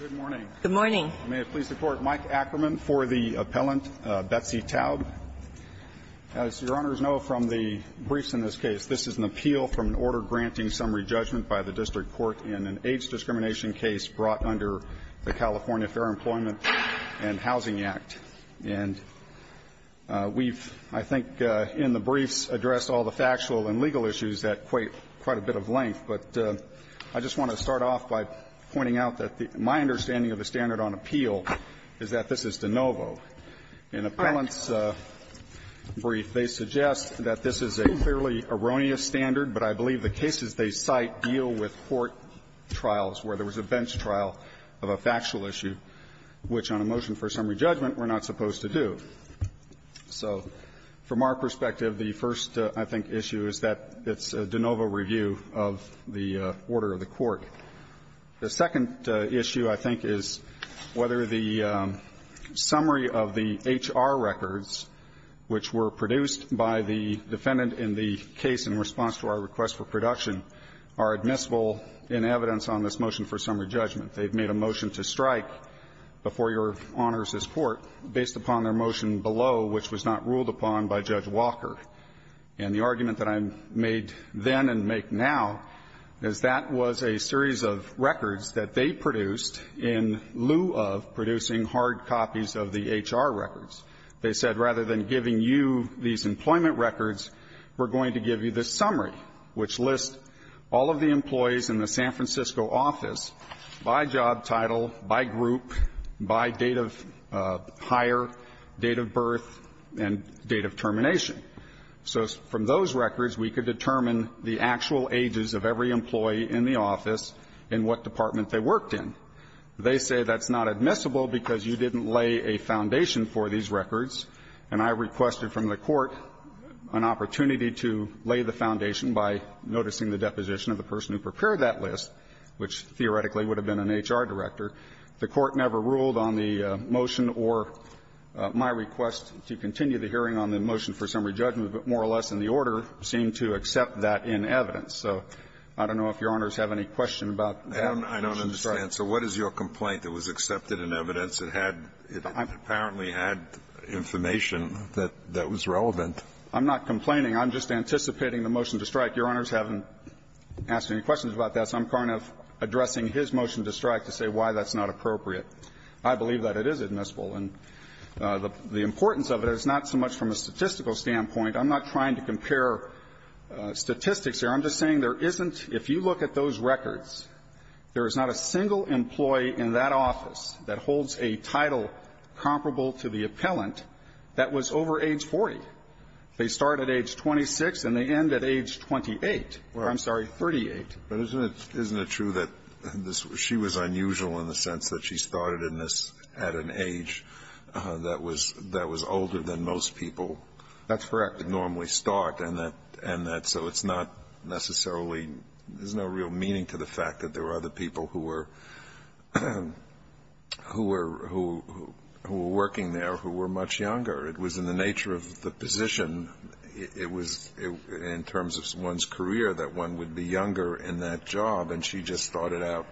Good morning. Good morning. May it please the Court, Mike Ackerman for the appellant, Betsy Taub. As Your Honors know from the briefs in this case, this is an appeal from an order granting summary judgment by the district court in an AIDS discrimination case brought under the California Fair Employment and Housing Act. And we've, I think, in the briefs, addressed all the factual and legal issues at quite a bit of length. But I just want to start off by pointing out that my understanding of the standard on appeal is that this is de novo. In the appellant's brief, they suggest that this is a clearly erroneous standard, but I believe the cases they cite deal with court trials where there was a bench trial of a factual issue, which on a motion for summary judgment we're not supposed to do. So from our perspective, the first, I think, issue is that it's a de novo review of the order of the court. The second issue, I think, is whether the summary of the H.R. records, which were produced by the defendant in the case in response to our request for production, are admissible in evidence on this motion for summary judgment. They've made a motion to strike before Your Honors' court based upon their motion below, which was not ruled upon by Judge Walker. And the argument that I made then and make now is that was a series of records that they produced in lieu of producing hard copies of the H.R. records. They said rather than giving you these employment records, we're going to give you this summary, which lists all of the employees in the San Francisco office by job title, by group, by date of hire, date of birth, and date of termination. So from those records, we could determine the actual ages of every employee in the office and what department they worked in. They say that's not admissible because you didn't lay a foundation for these records, and I requested from the Court an opportunity to lay the foundation by noticing the deposition of the person who prepared that list, which theoretically would have been an H.R. director. The Court never ruled on the motion or my request to continue the hearing on the motion for summary judgment, but more or less in the order seemed to accept that in evidence. So I don't know if Your Honors have any question about that. I don't understand. So what is your complaint that was accepted in evidence? It had – it apparently had information that was relevant. I'm not complaining. I'm just anticipating the motion to strike. Your Honors haven't asked any questions about that, so I'm kind of addressing his motion to strike to say why that's not appropriate. I believe that it is admissible. And the importance of it is not so much from a statistical standpoint. I'm not trying to compare statistics here. I'm just saying there isn't – if you look at those records, there is not a single employee in that office that holds a title comparable to the appellant that was over age 40. They start at age 26 and they end at age 28. I'm sorry, 38. But isn't it – isn't it true that this – she was unusual in the sense that she started in this at an age that was – that was older than most people normally start, and that – and that so it's not necessarily – there's no real meaning to the fact that there were other people who were – who were – who were working there who were much younger. It was in the nature of the position. It was in terms of one's career that one would be younger in that job, and she just started out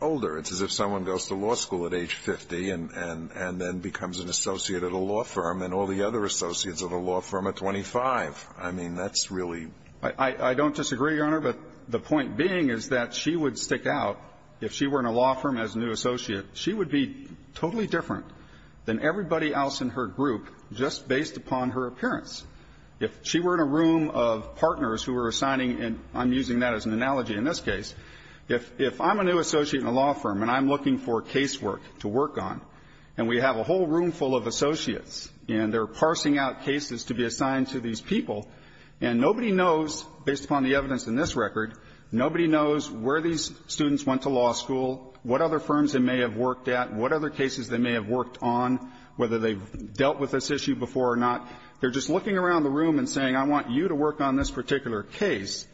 older. It's as if someone goes to law school at age 50 and then becomes an associate at a law firm and all the other associates at a law firm are 25. I mean, that's really – I don't disagree, Your Honor, but the point being is that she would stick out if she were in a law firm as a new associate. She would be totally different than everybody else in her group just based upon her appearance. If she were in a room of partners who were assigning – and I'm using that as an analogy in this case. If I'm a new associate in a law firm and I'm looking for casework to work on, and we have a whole room full of associates and they're parsing out cases to be assigned to these people, and nobody knows, based upon the evidence in this record, nobody knows where these students went to law school, what other firms they may have worked at, what other cases they may have worked on, whether they've dealt with this issue before or not. They're just looking around the room and saying, I want you to work on this particular case.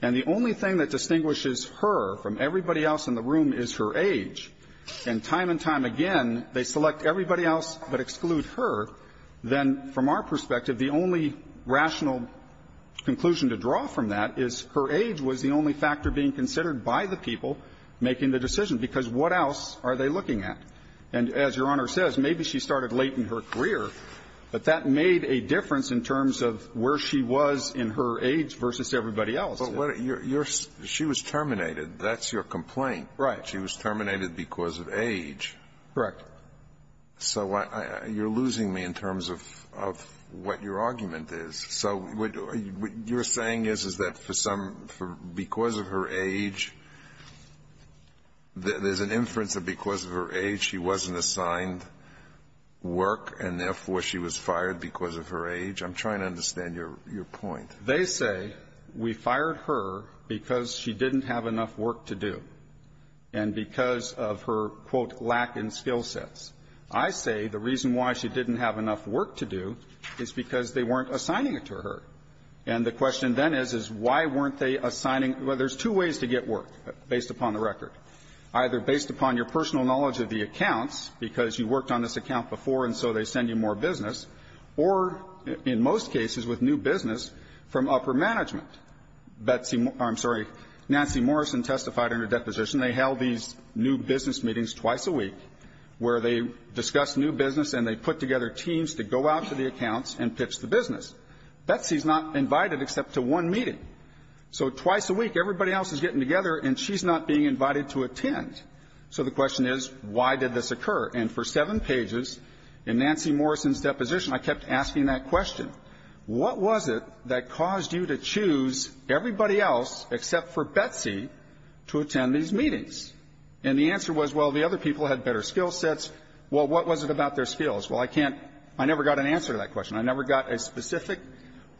And the only thing that distinguishes her from everybody else in the room is her age. And time and time again, they select everybody else but exclude her. Then, from our perspective, the only rational conclusion to draw from that is her age was the only factor being considered by the people making the decision, because what else are they looking at? And as Your Honor says, maybe she started late in her career, but that made a difference in terms of where she was in her age versus everybody else. Alito, you're – she was terminated. That's your complaint. Right. She was terminated because of age. Correct. So I – you're losing me in terms of what your argument is. So what you're saying is, is that for some – because of her age, there's an inference that because of her age she wasn't assigned work, and therefore she was fired because of her age? I'm trying to understand your point. They say we fired her because she didn't have enough work to do. And because of her, quote, lack in skill sets. I say the reason why she didn't have enough work to do is because they weren't assigning it to her. And the question then is, is why weren't they assigning – well, there's two ways to get work, based upon the record. Either based upon your personal knowledge of the accounts, because you worked on this account before and so they send you more business, or, in most cases, with new business from upper management. Betsy – I'm sorry. Nancy Morrison testified in her deposition. They held these new business meetings twice a week, where they discussed new business and they put together teams to go out to the accounts and pitch the business. Betsy's not invited except to one meeting. So twice a week, everybody else is getting together and she's not being invited to attend. So the question is, why did this occur? And for seven pages, in Nancy Morrison's deposition, I kept asking that question. What was it that caused you to choose everybody else except for Betsy to attend these meetings? And the answer was, well, the other people had better skill sets. Well, what was it about their skills? Well, I can't – I never got an answer to that question. I never got a specific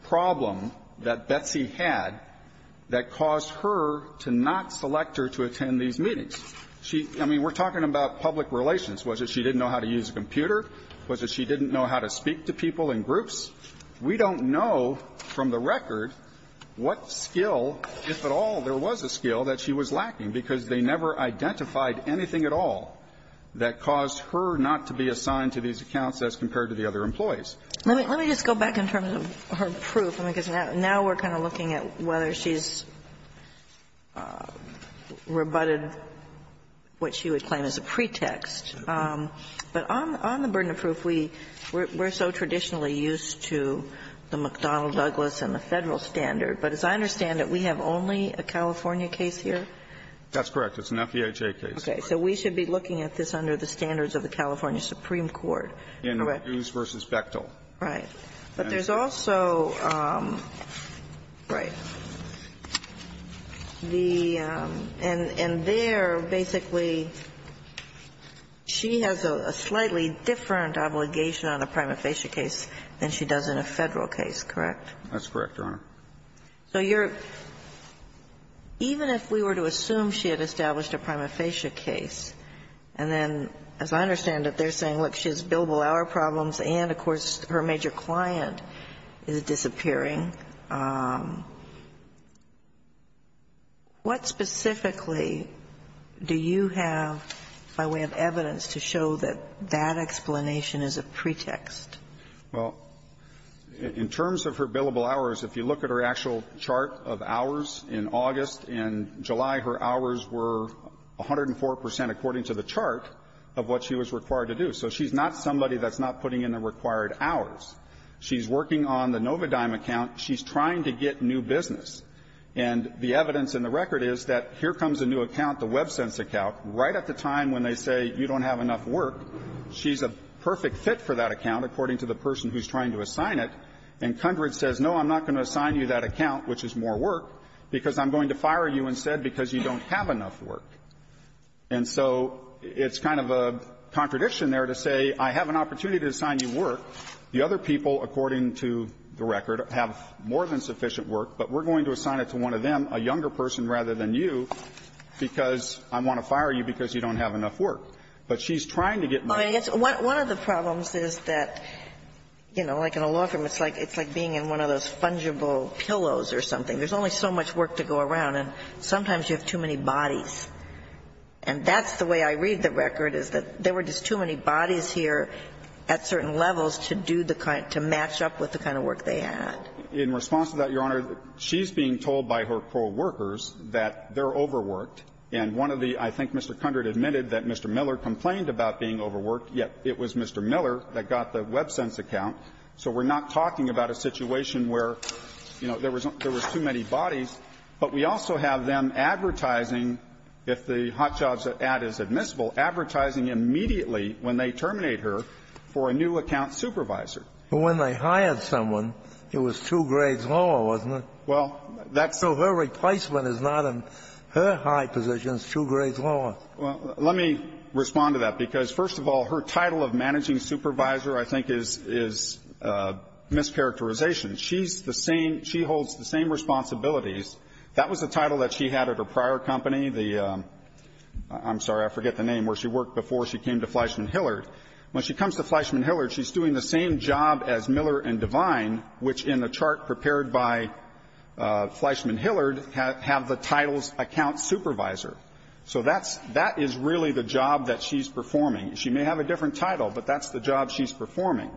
problem that Betsy had that caused her to not select her to attend these meetings. She – I mean, we're talking about public relations. Was it she didn't know how to use a computer? Was it she didn't know how to speak to people in groups? We don't know from the record what skill, if at all, there was a skill that she was lacking, because they never identified anything at all that caused her not to be assigned to these accounts as compared to the other employees. Let me just go back in terms of her proof, because now we're kind of looking at whether she's rebutted what she would claim as a pretext. But on the burden of proof, we're so traditionally used to the McDonnell-Douglas and the Federal standard, but as I understand it, we have only a California case here? That's correct. It's an FEHA case. Okay. So we should be looking at this under the standards of the California Supreme Court, correct? In Hughes v. Bechtel. Right. But there's also – right. The – and there, basically, she has a slightly different obligation on a prima facie case than she does in a Federal case, correct? That's correct, Your Honor. So you're – even if we were to assume she had established a prima facie case, and then, as I understand it, they're saying, look, she has billable hour problems and, of course, her major client is disappearing, what specifically do you have by way of evidence to show that that explanation is a pretext? Well, in terms of her billable hours, if you look at her actual chart of hours in August and July, her hours were 104 percent according to the chart of what she was required to do. So she's not somebody that's not putting in the required hours. She's working on the Novodime account. She's trying to get new business. And the evidence in the record is that here comes a new account, the WebSense account, right at the time when they say you don't have enough work, she's a perfect fit for that account according to the person who's trying to assign it. And Cundred says, no, I'm not going to assign you that account, which is more work, because I'm going to fire you instead because you don't have enough work. And so it's kind of a contradiction there to say I have an opportunity to assign you work. The other people, according to the record, have more than sufficient work, but we're going to assign it to one of them, a younger person rather than you, because I want to fire you because you don't have enough work. But she's trying to get new business. One of the problems is that, you know, like in a law firm, it's like being in one of those fungible pillows or something. There's only so much work to go around, and sometimes you have too many bodies. And that's the way I read the record, is that there were just too many bodies here at certain levels to do the kind of – to match up with the kind of work they had. In response to that, Your Honor, she's being told by her co-workers that they're overworked. And one of the – I think Mr. Cundred admitted that Mr. Miller complained about being overworked, yet it was Mr. Miller that got the WebSense account. So we're not talking about a situation where, you know, there was too many bodies. But we also have them advertising – if the hot jobs ad is admissible – advertising immediately, when they terminate her, for a new account supervisor. But when they hired someone, it was two grades lower, wasn't it? Well, that's – So her replacement is not in her high position. It's two grades lower. Well, let me respond to that, because, first of all, her title of managing supervisor, I think, is mischaracterization. She's the same – she holds the same responsibilities. That was a title that she had at her prior company, the – I'm sorry, I forget the name – where she worked before she came to Fleischman Hillard. When she comes to Fleischman Hillard, she's doing the same job as Miller and Devine, which, in the chart prepared by Fleischman Hillard, have the title's account supervisor. So that's – that is really the job that she's performing. She may have a different title, but that's the job she's performing.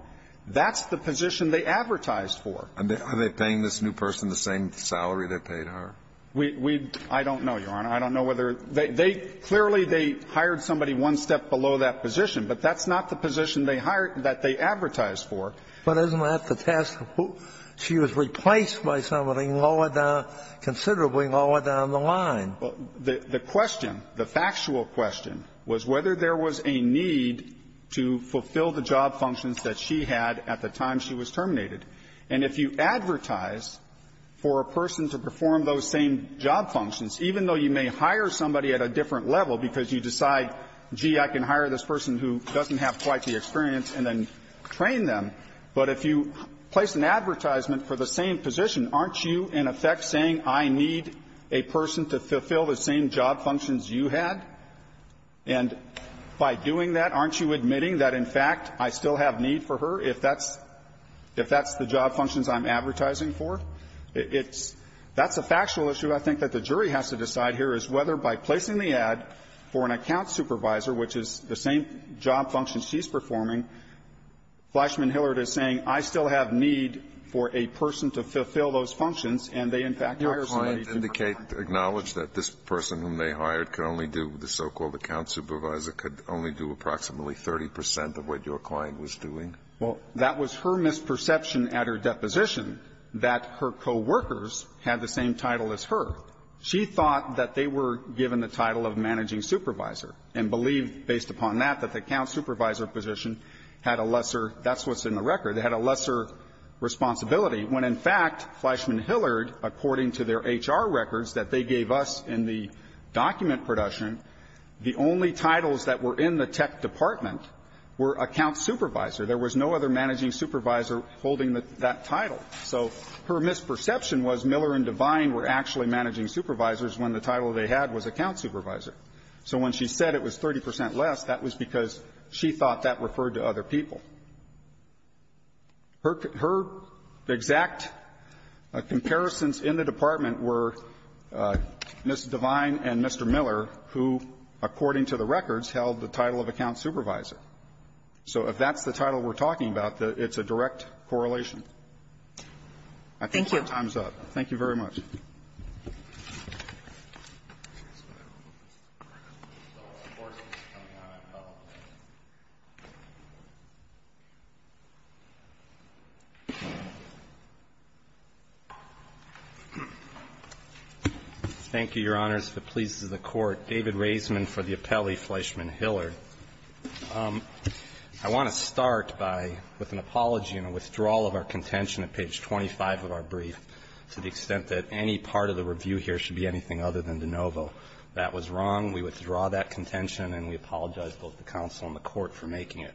That's the position they advertised for. Are they paying this new person the same salary they paid her? We – I don't know, Your Honor. I don't know whether – they – clearly, they hired somebody one step below that position. But that's not the position they hired – that they advertised for. But isn't that the task – she was replaced by somebody lower down – considerably lower down the line. The question, the factual question, was whether there was a need to fulfill the job functions that she had at the time she was terminated. And if you advertise for a person to perform those same job functions, even though you may hire somebody at a different level because you decide, gee, I can hire this person who doesn't have quite the experience and then train them. But if you place an advertisement for the same position, aren't you, in effect, saying, I need a person to fulfill the same job functions you had? And by doing that, aren't you admitting that, in fact, I still have need for her if that's – if that's the job functions I'm advertising for? It's – that's a factual issue, I think, that the jury has to decide here is whether by placing the ad for an account supervisor, which is the same job function she's performing, Fleischman-Hillert is saying, I still have need for a person to fulfill those functions, and they, in fact, hired somebody to perform those functions. Alito, do you acknowledge that this person whom they hired could only do – the so-called account supervisor could only do approximately 30 percent of what your client was doing? Well, that was her misperception at her deposition, that her co-workers had the same title as her. She thought that they were given the title of managing supervisor, and believed, based upon that, that the account supervisor position had a lesser – that's what's in the record – had a lesser responsibility, when, in fact, Fleischman-Hillert, according to their HR records that they gave us in the document production, the only titles that were in the tech department were account supervisor. There was no other managing supervisor holding that title. So her misperception was Miller and Devine were actually managing supervisors when the title they had was account supervisor. So when she said it was 30 percent less, that was because she thought that referred to other people. Her exact comparisons in the department were Ms. Devine and Mr. Miller, who, according to the records, held the title of account supervisor. So if that's the title we're talking about, it's a direct correlation. I think your time is up. Thank you very much. Thank you, Your Honors. If it pleases the Court, David Raisman for the appellee, Fleischman-Hillert. I want to start by, with an apology and a withdrawal of our contention at page 25 of our brief, to the extent that any part of the review here should be anything other than de novo. That was wrong. We withdraw that contention, and we apologize, both the counsel and the Court, for making it.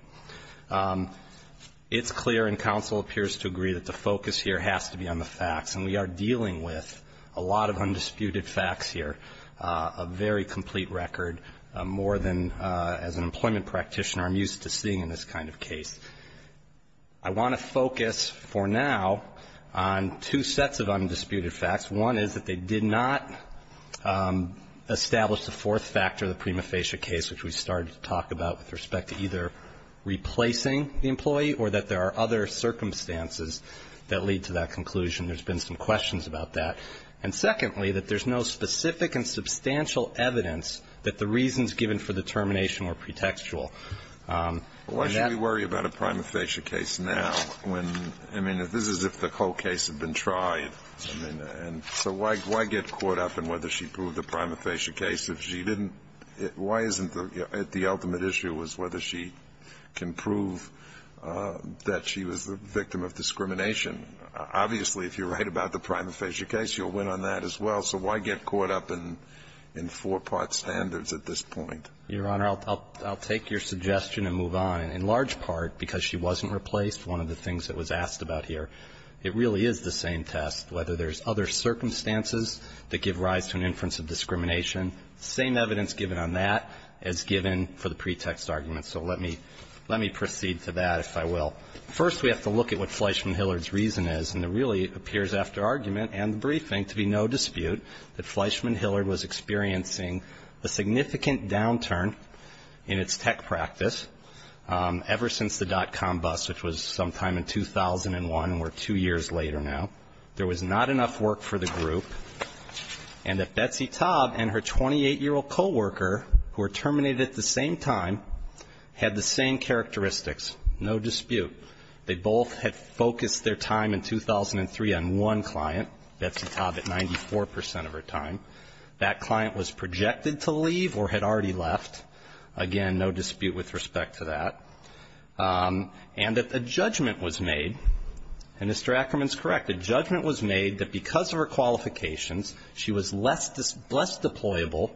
It's clear, and counsel appears to agree, that the focus here has to be on the facts. And we are dealing with a lot of undisputed facts here, a very complete record, more than, as an employment practitioner, I'm used to seeing in this kind of case. I want to focus, for now, on two sets of undisputed facts. One is that they did not establish the fourth factor of the prima facie case, which we started to talk about with respect to either replacing the employee or that there are other circumstances that lead to that conclusion. There's been some questions about that. And secondly, that there's no specific and substantial evidence that the reasons given for the termination were pretextual. Why should we worry about a prima facie case now when, I mean, this is if the whole case had been tried. I mean, and so why get caught up in whether she proved a prima facie case if she didn't? Why isn't the ultimate issue was whether she can prove that she was the victim of discrimination? Obviously, if you're right about the prima facie case, you'll win on that as well. So why get caught up in four-part standards at this point? Your Honor, I'll take your suggestion and move on. In large part, because she wasn't replaced, one of the things that was asked about here, it really is the same test, whether there's other circumstances that give rise to an inference of discrimination. Same evidence given on that as given for the pretext argument. So let me proceed to that, if I will. First, we have to look at what Fleischman-Hillard's reason is. And it really appears after argument and the briefing to be no dispute that Fleischman-Hillard was experiencing a significant downturn in its tech practice ever since the dot-com bust, which was sometime in 2001, and we're two years later now. There was not enough work for the group. And that Betsy Taub and her 28-year-old co-worker, who were terminated at the same time, had the same characteristics, no dispute. They both had focused their time in 2003 on one client, Betsy Taub, at 94 percent of her time. That client was projected to leave or had already left. Again, no dispute with respect to that. And that a judgment was made, and Mr. Ackerman's correct, a judgment was made that because of her qualifications, she was less deployable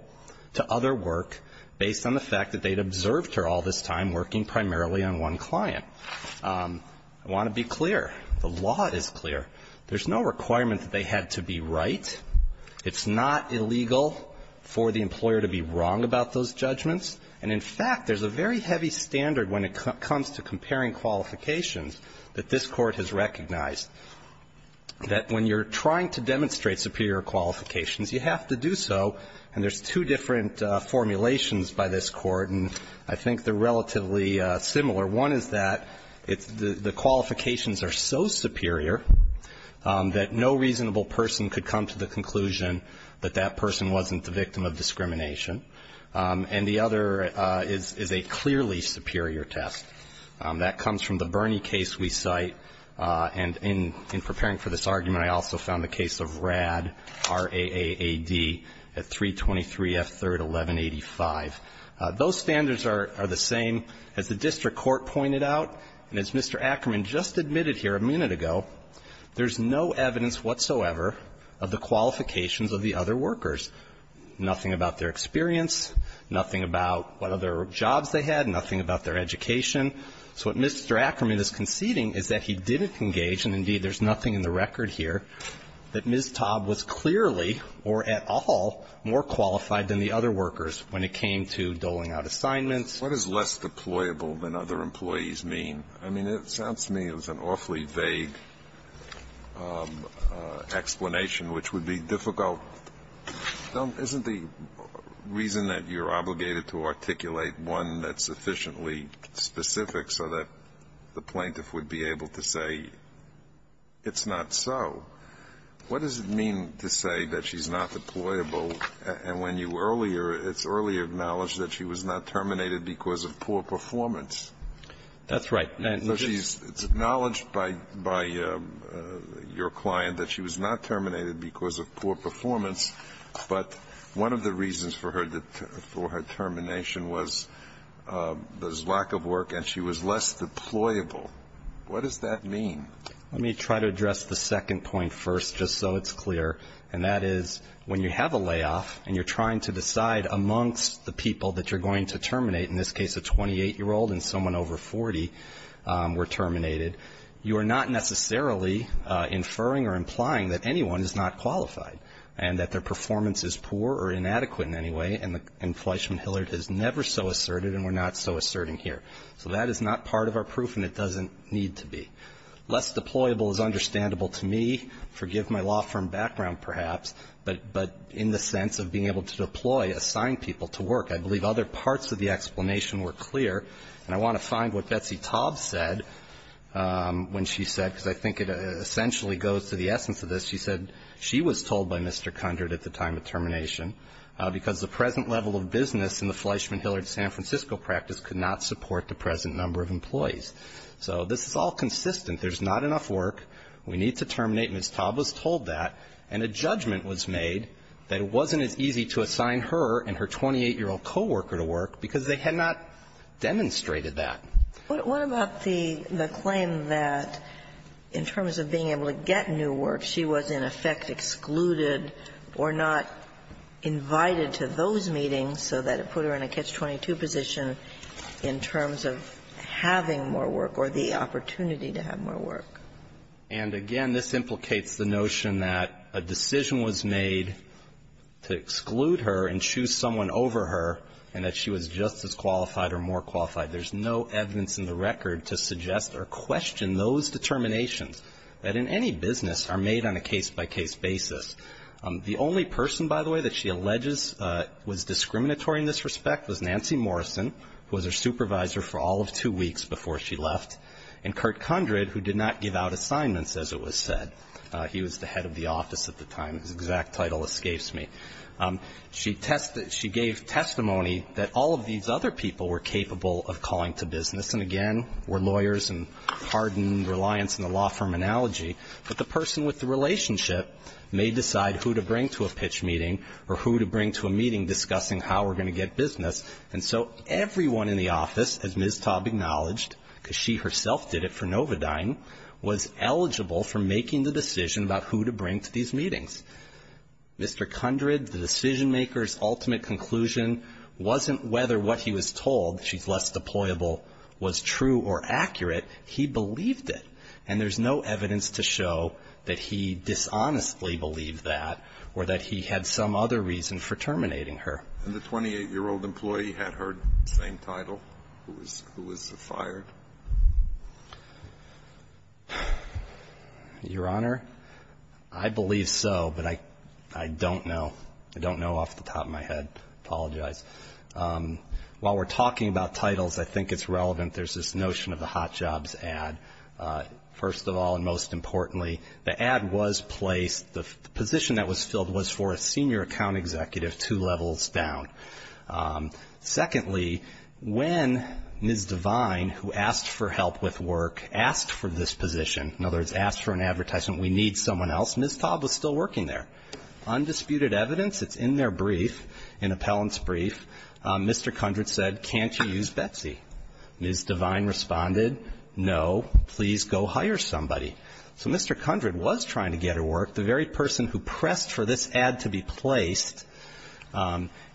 to other work based on the fact that they'd observed her all this time working primarily on one client. I want to be clear. The law is clear. There's no requirement that they had to be right. It's not illegal for the employer to be wrong about those judgments. And, in fact, there's a very heavy standard when it comes to comparing qualifications that this Court has recognized, that when you're trying to demonstrate superior qualifications, you have to do so. And there's two different formulations by this Court, and I think they're relatively similar. One is that the qualifications are so superior that no reasonable person could come to the conclusion that that person wasn't the victim of discrimination. And the other is a clearly superior test. That comes from the Bernie case we cite. And in preparing for this argument, I also found the case of RAAD, R-A-A-A-D, at 323 F. 3rd, 1185. Those standards are the same as the district court pointed out. And as Mr. Ackerman just admitted here a minute ago, there's no evidence whatsoever of the qualifications of the other workers, nothing about their experience, nothing about what other jobs they had, nothing about their education. So what Mr. Ackerman is conceding is that he didn't engage, and indeed there's nothing in the record here, that Ms. Taub was clearly or at all more qualified than the other workers when it came to doling out assignments. Alito What does less deployable than other employees mean? I mean, it sounds to me it was an awfully vague explanation, which would be difficult. Isn't the reason that you're obligated to articulate one that's sufficiently specific so that the plaintiff would be able to say it's not so, what does it mean to say that she's not deployable, and when you earlier, it's earlier acknowledged that she was not terminated because of poor performance. That's right. And she's acknowledged by your client that she was not terminated because of poor performance, but one of the reasons for her termination was there's lack of work and she was less deployable. What does that mean? Let me try to address the second point first just so it's clear, and that is when you have a layoff and you're trying to decide amongst the people that you're going to terminate, in this case a 28-year-old and someone over 40 were terminated, you are not necessarily inferring or implying that anyone is not qualified and that their performance is poor or inadequate in any way, and Fleishman-Hillard has never so asserted and we're not so asserting here. So that is not part of our proof and it doesn't need to be. Less deployable is understandable to me, forgive my law firm background perhaps, but in the sense of being able to deploy, assign people to work. I believe other parts of the explanation were clear and I want to find what Betsy Taub said when she said, because I think it essentially goes to the essence of this, she said, she was told by Mr. Cundred at the time of termination because the present level of business in the Fleishman-Hillard San Francisco practice could not support the present number of employees. So this is all consistent. There's not enough work. We need to terminate. Ms. Taub was told that and a judgment was made that it wasn't as easy to assign her and her 28-year-old co-worker to work because they had not demonstrated that. What about the claim that in terms of being able to get new work, she was in effect excluded or not invited to those meetings so that it put her in a catch-22 position in terms of having more work or the opportunity to have more work? And again, this implicates the notion that a decision was made to exclude her and choose someone over her and that she was just as qualified or more qualified. There's no evidence in the record to suggest or question those determinations that in any business are made on a case-by-case basis. The only person, by the way, that she alleges was discriminatory in this respect was Nancy Morrison, who was her supervisor for all of two weeks before she left, and Kurt Cundred, who did not give out assignments, as it was said. He was the head of the office at the time. His exact title escapes me. She gave testimony that all of these other people were capable of calling to business and, again, were lawyers and hardened reliance on the law firm analogy, but the person with the relationship may decide who to bring to a pitch meeting or who to bring to a meeting discussing how we're going to get business. And so everyone in the office, as Ms. Taub acknowledged, because she herself did it for Novodyne, was eligible for making the decision about who to bring to these meetings. Mr. Cundred, the decision-maker's ultimate conclusion wasn't whether what he was told, she's less deployable, was true or accurate. He believed it, and there's no evidence to show that he dishonestly believed that or that he had some other reason for terminating her. And the 28-year-old employee had her same title, who was fired? Your Honor, I believe so, but I don't know. I don't know off the top of my head. Apologize. While we're talking about titles, I think it's relevant. There's this notion of the hot jobs ad. First of all, and most importantly, the ad was placed, the position that was filled was for a senior account executive two levels down. Secondly, when Ms. Devine, who asked for help with work, asked for this position, in other words, asked for an advertisement, we need someone else, Ms. Taub was still working there. Undisputed evidence, it's in their brief, an appellant's brief, Mr. Cundred said, can't you use Betsy? Ms. Devine responded, no, please go hire somebody. So Mr. Cundred was trying to get her work. The very person who pressed for this ad to be placed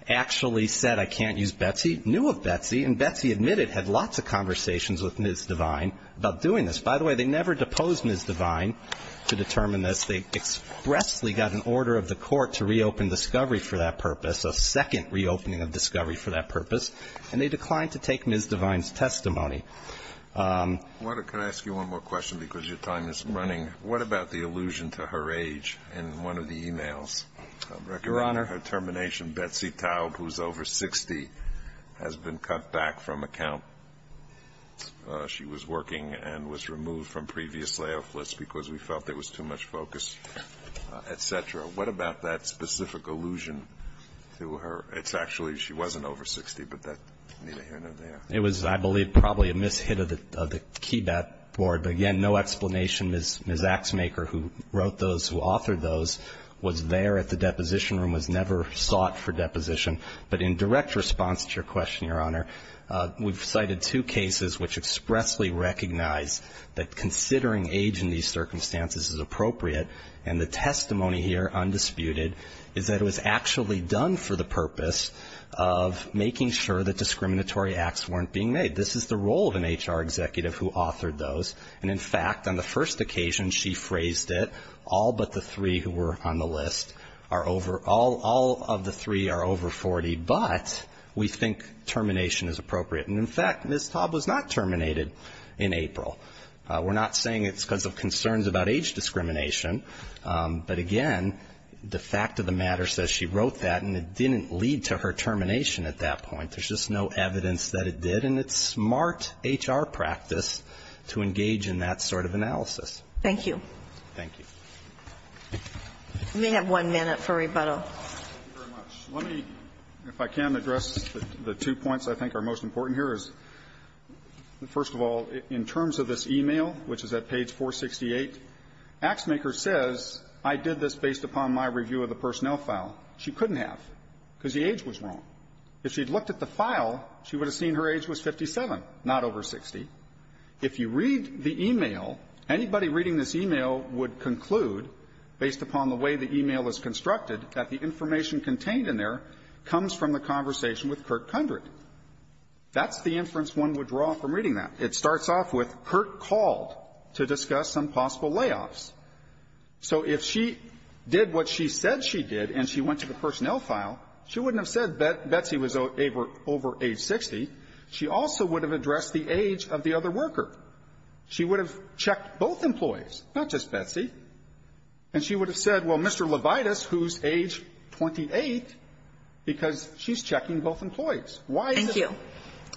actually said, I can't use Betsy, knew of Betsy, and Betsy admitted had lots of conversations with Ms. Devine about doing this. By the way, they never deposed Ms. Devine to determine this. They expressly got an order of the court to reopen Discovery for that purpose, a second reopening of Discovery for that purpose, and they declined to take Ms. Devine's testimony. Water, can I ask you one more question because your time is running? What about the allusion to her age in one of the emails, her termination, Betsy Taub, who's over 60, has been cut back from account. She was working and was removed from previous layoff lists because we felt there was too much focus, et cetera. What about that specific allusion to her? It's actually she wasn't over 60, but that was, I believe, probably a mishit of the board, but again, no explanation. Ms. Ms. Axemaker, who wrote those, who authored those, was there at the deposition room, was never sought for deposition. But in direct response to your question, Your Honor, we've cited two cases which expressly recognize that considering age in these circumstances is appropriate. And the testimony here, undisputed, is that it was actually done for the purpose of making sure that discriminatory acts weren't being made. This is the role of an HR executive who authored those, and in fact, on the first occasion she phrased it, all but the three who were on the list are over, all of the three are over 40, but we think termination is appropriate. And in fact, Ms. Taub was not terminated in April. We're not saying it's because of concerns about age discrimination, but again, the fact of the matter says she wrote that and it didn't lead to her termination at that point. There's just no evidence that it did, and it's smart HR practice to engage in that sort of analysis. Thank you. Thank you. We have one minute for rebuttal. Thank you very much. Let me, if I can, address the two points I think are most important here. First of all, in terms of this e-mail, which is at page 468, Axemaker says, I did this based upon my review of the personnel file. She couldn't have, because the age was wrong. If she had looked at the file, she would have seen her age was 57, not over 60. If you read the e-mail, anybody reading this e-mail would conclude, based upon the way the e-mail is constructed, that the information contained in there comes from the conversation with Kurt Kundrat. That's the inference one would draw from reading that. It starts off with, Kurt called to discuss some possible layoffs. So if she did what she said she did and she went to the personnel file, she wouldn't have said that Betsy was over age 60. She also would have addressed the age of the other worker. She would have checked both employees, not just Betsy. And she would have said, well, Mr. Levitas, who's age 28, because she's checking both employees. Why is it so? Thank you.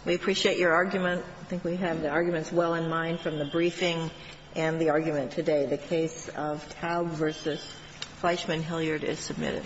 We appreciate your argument. I think we have the arguments well in mind from the briefing and the argument today. The case of Taub v. Fleischman-Hilliard is submitted.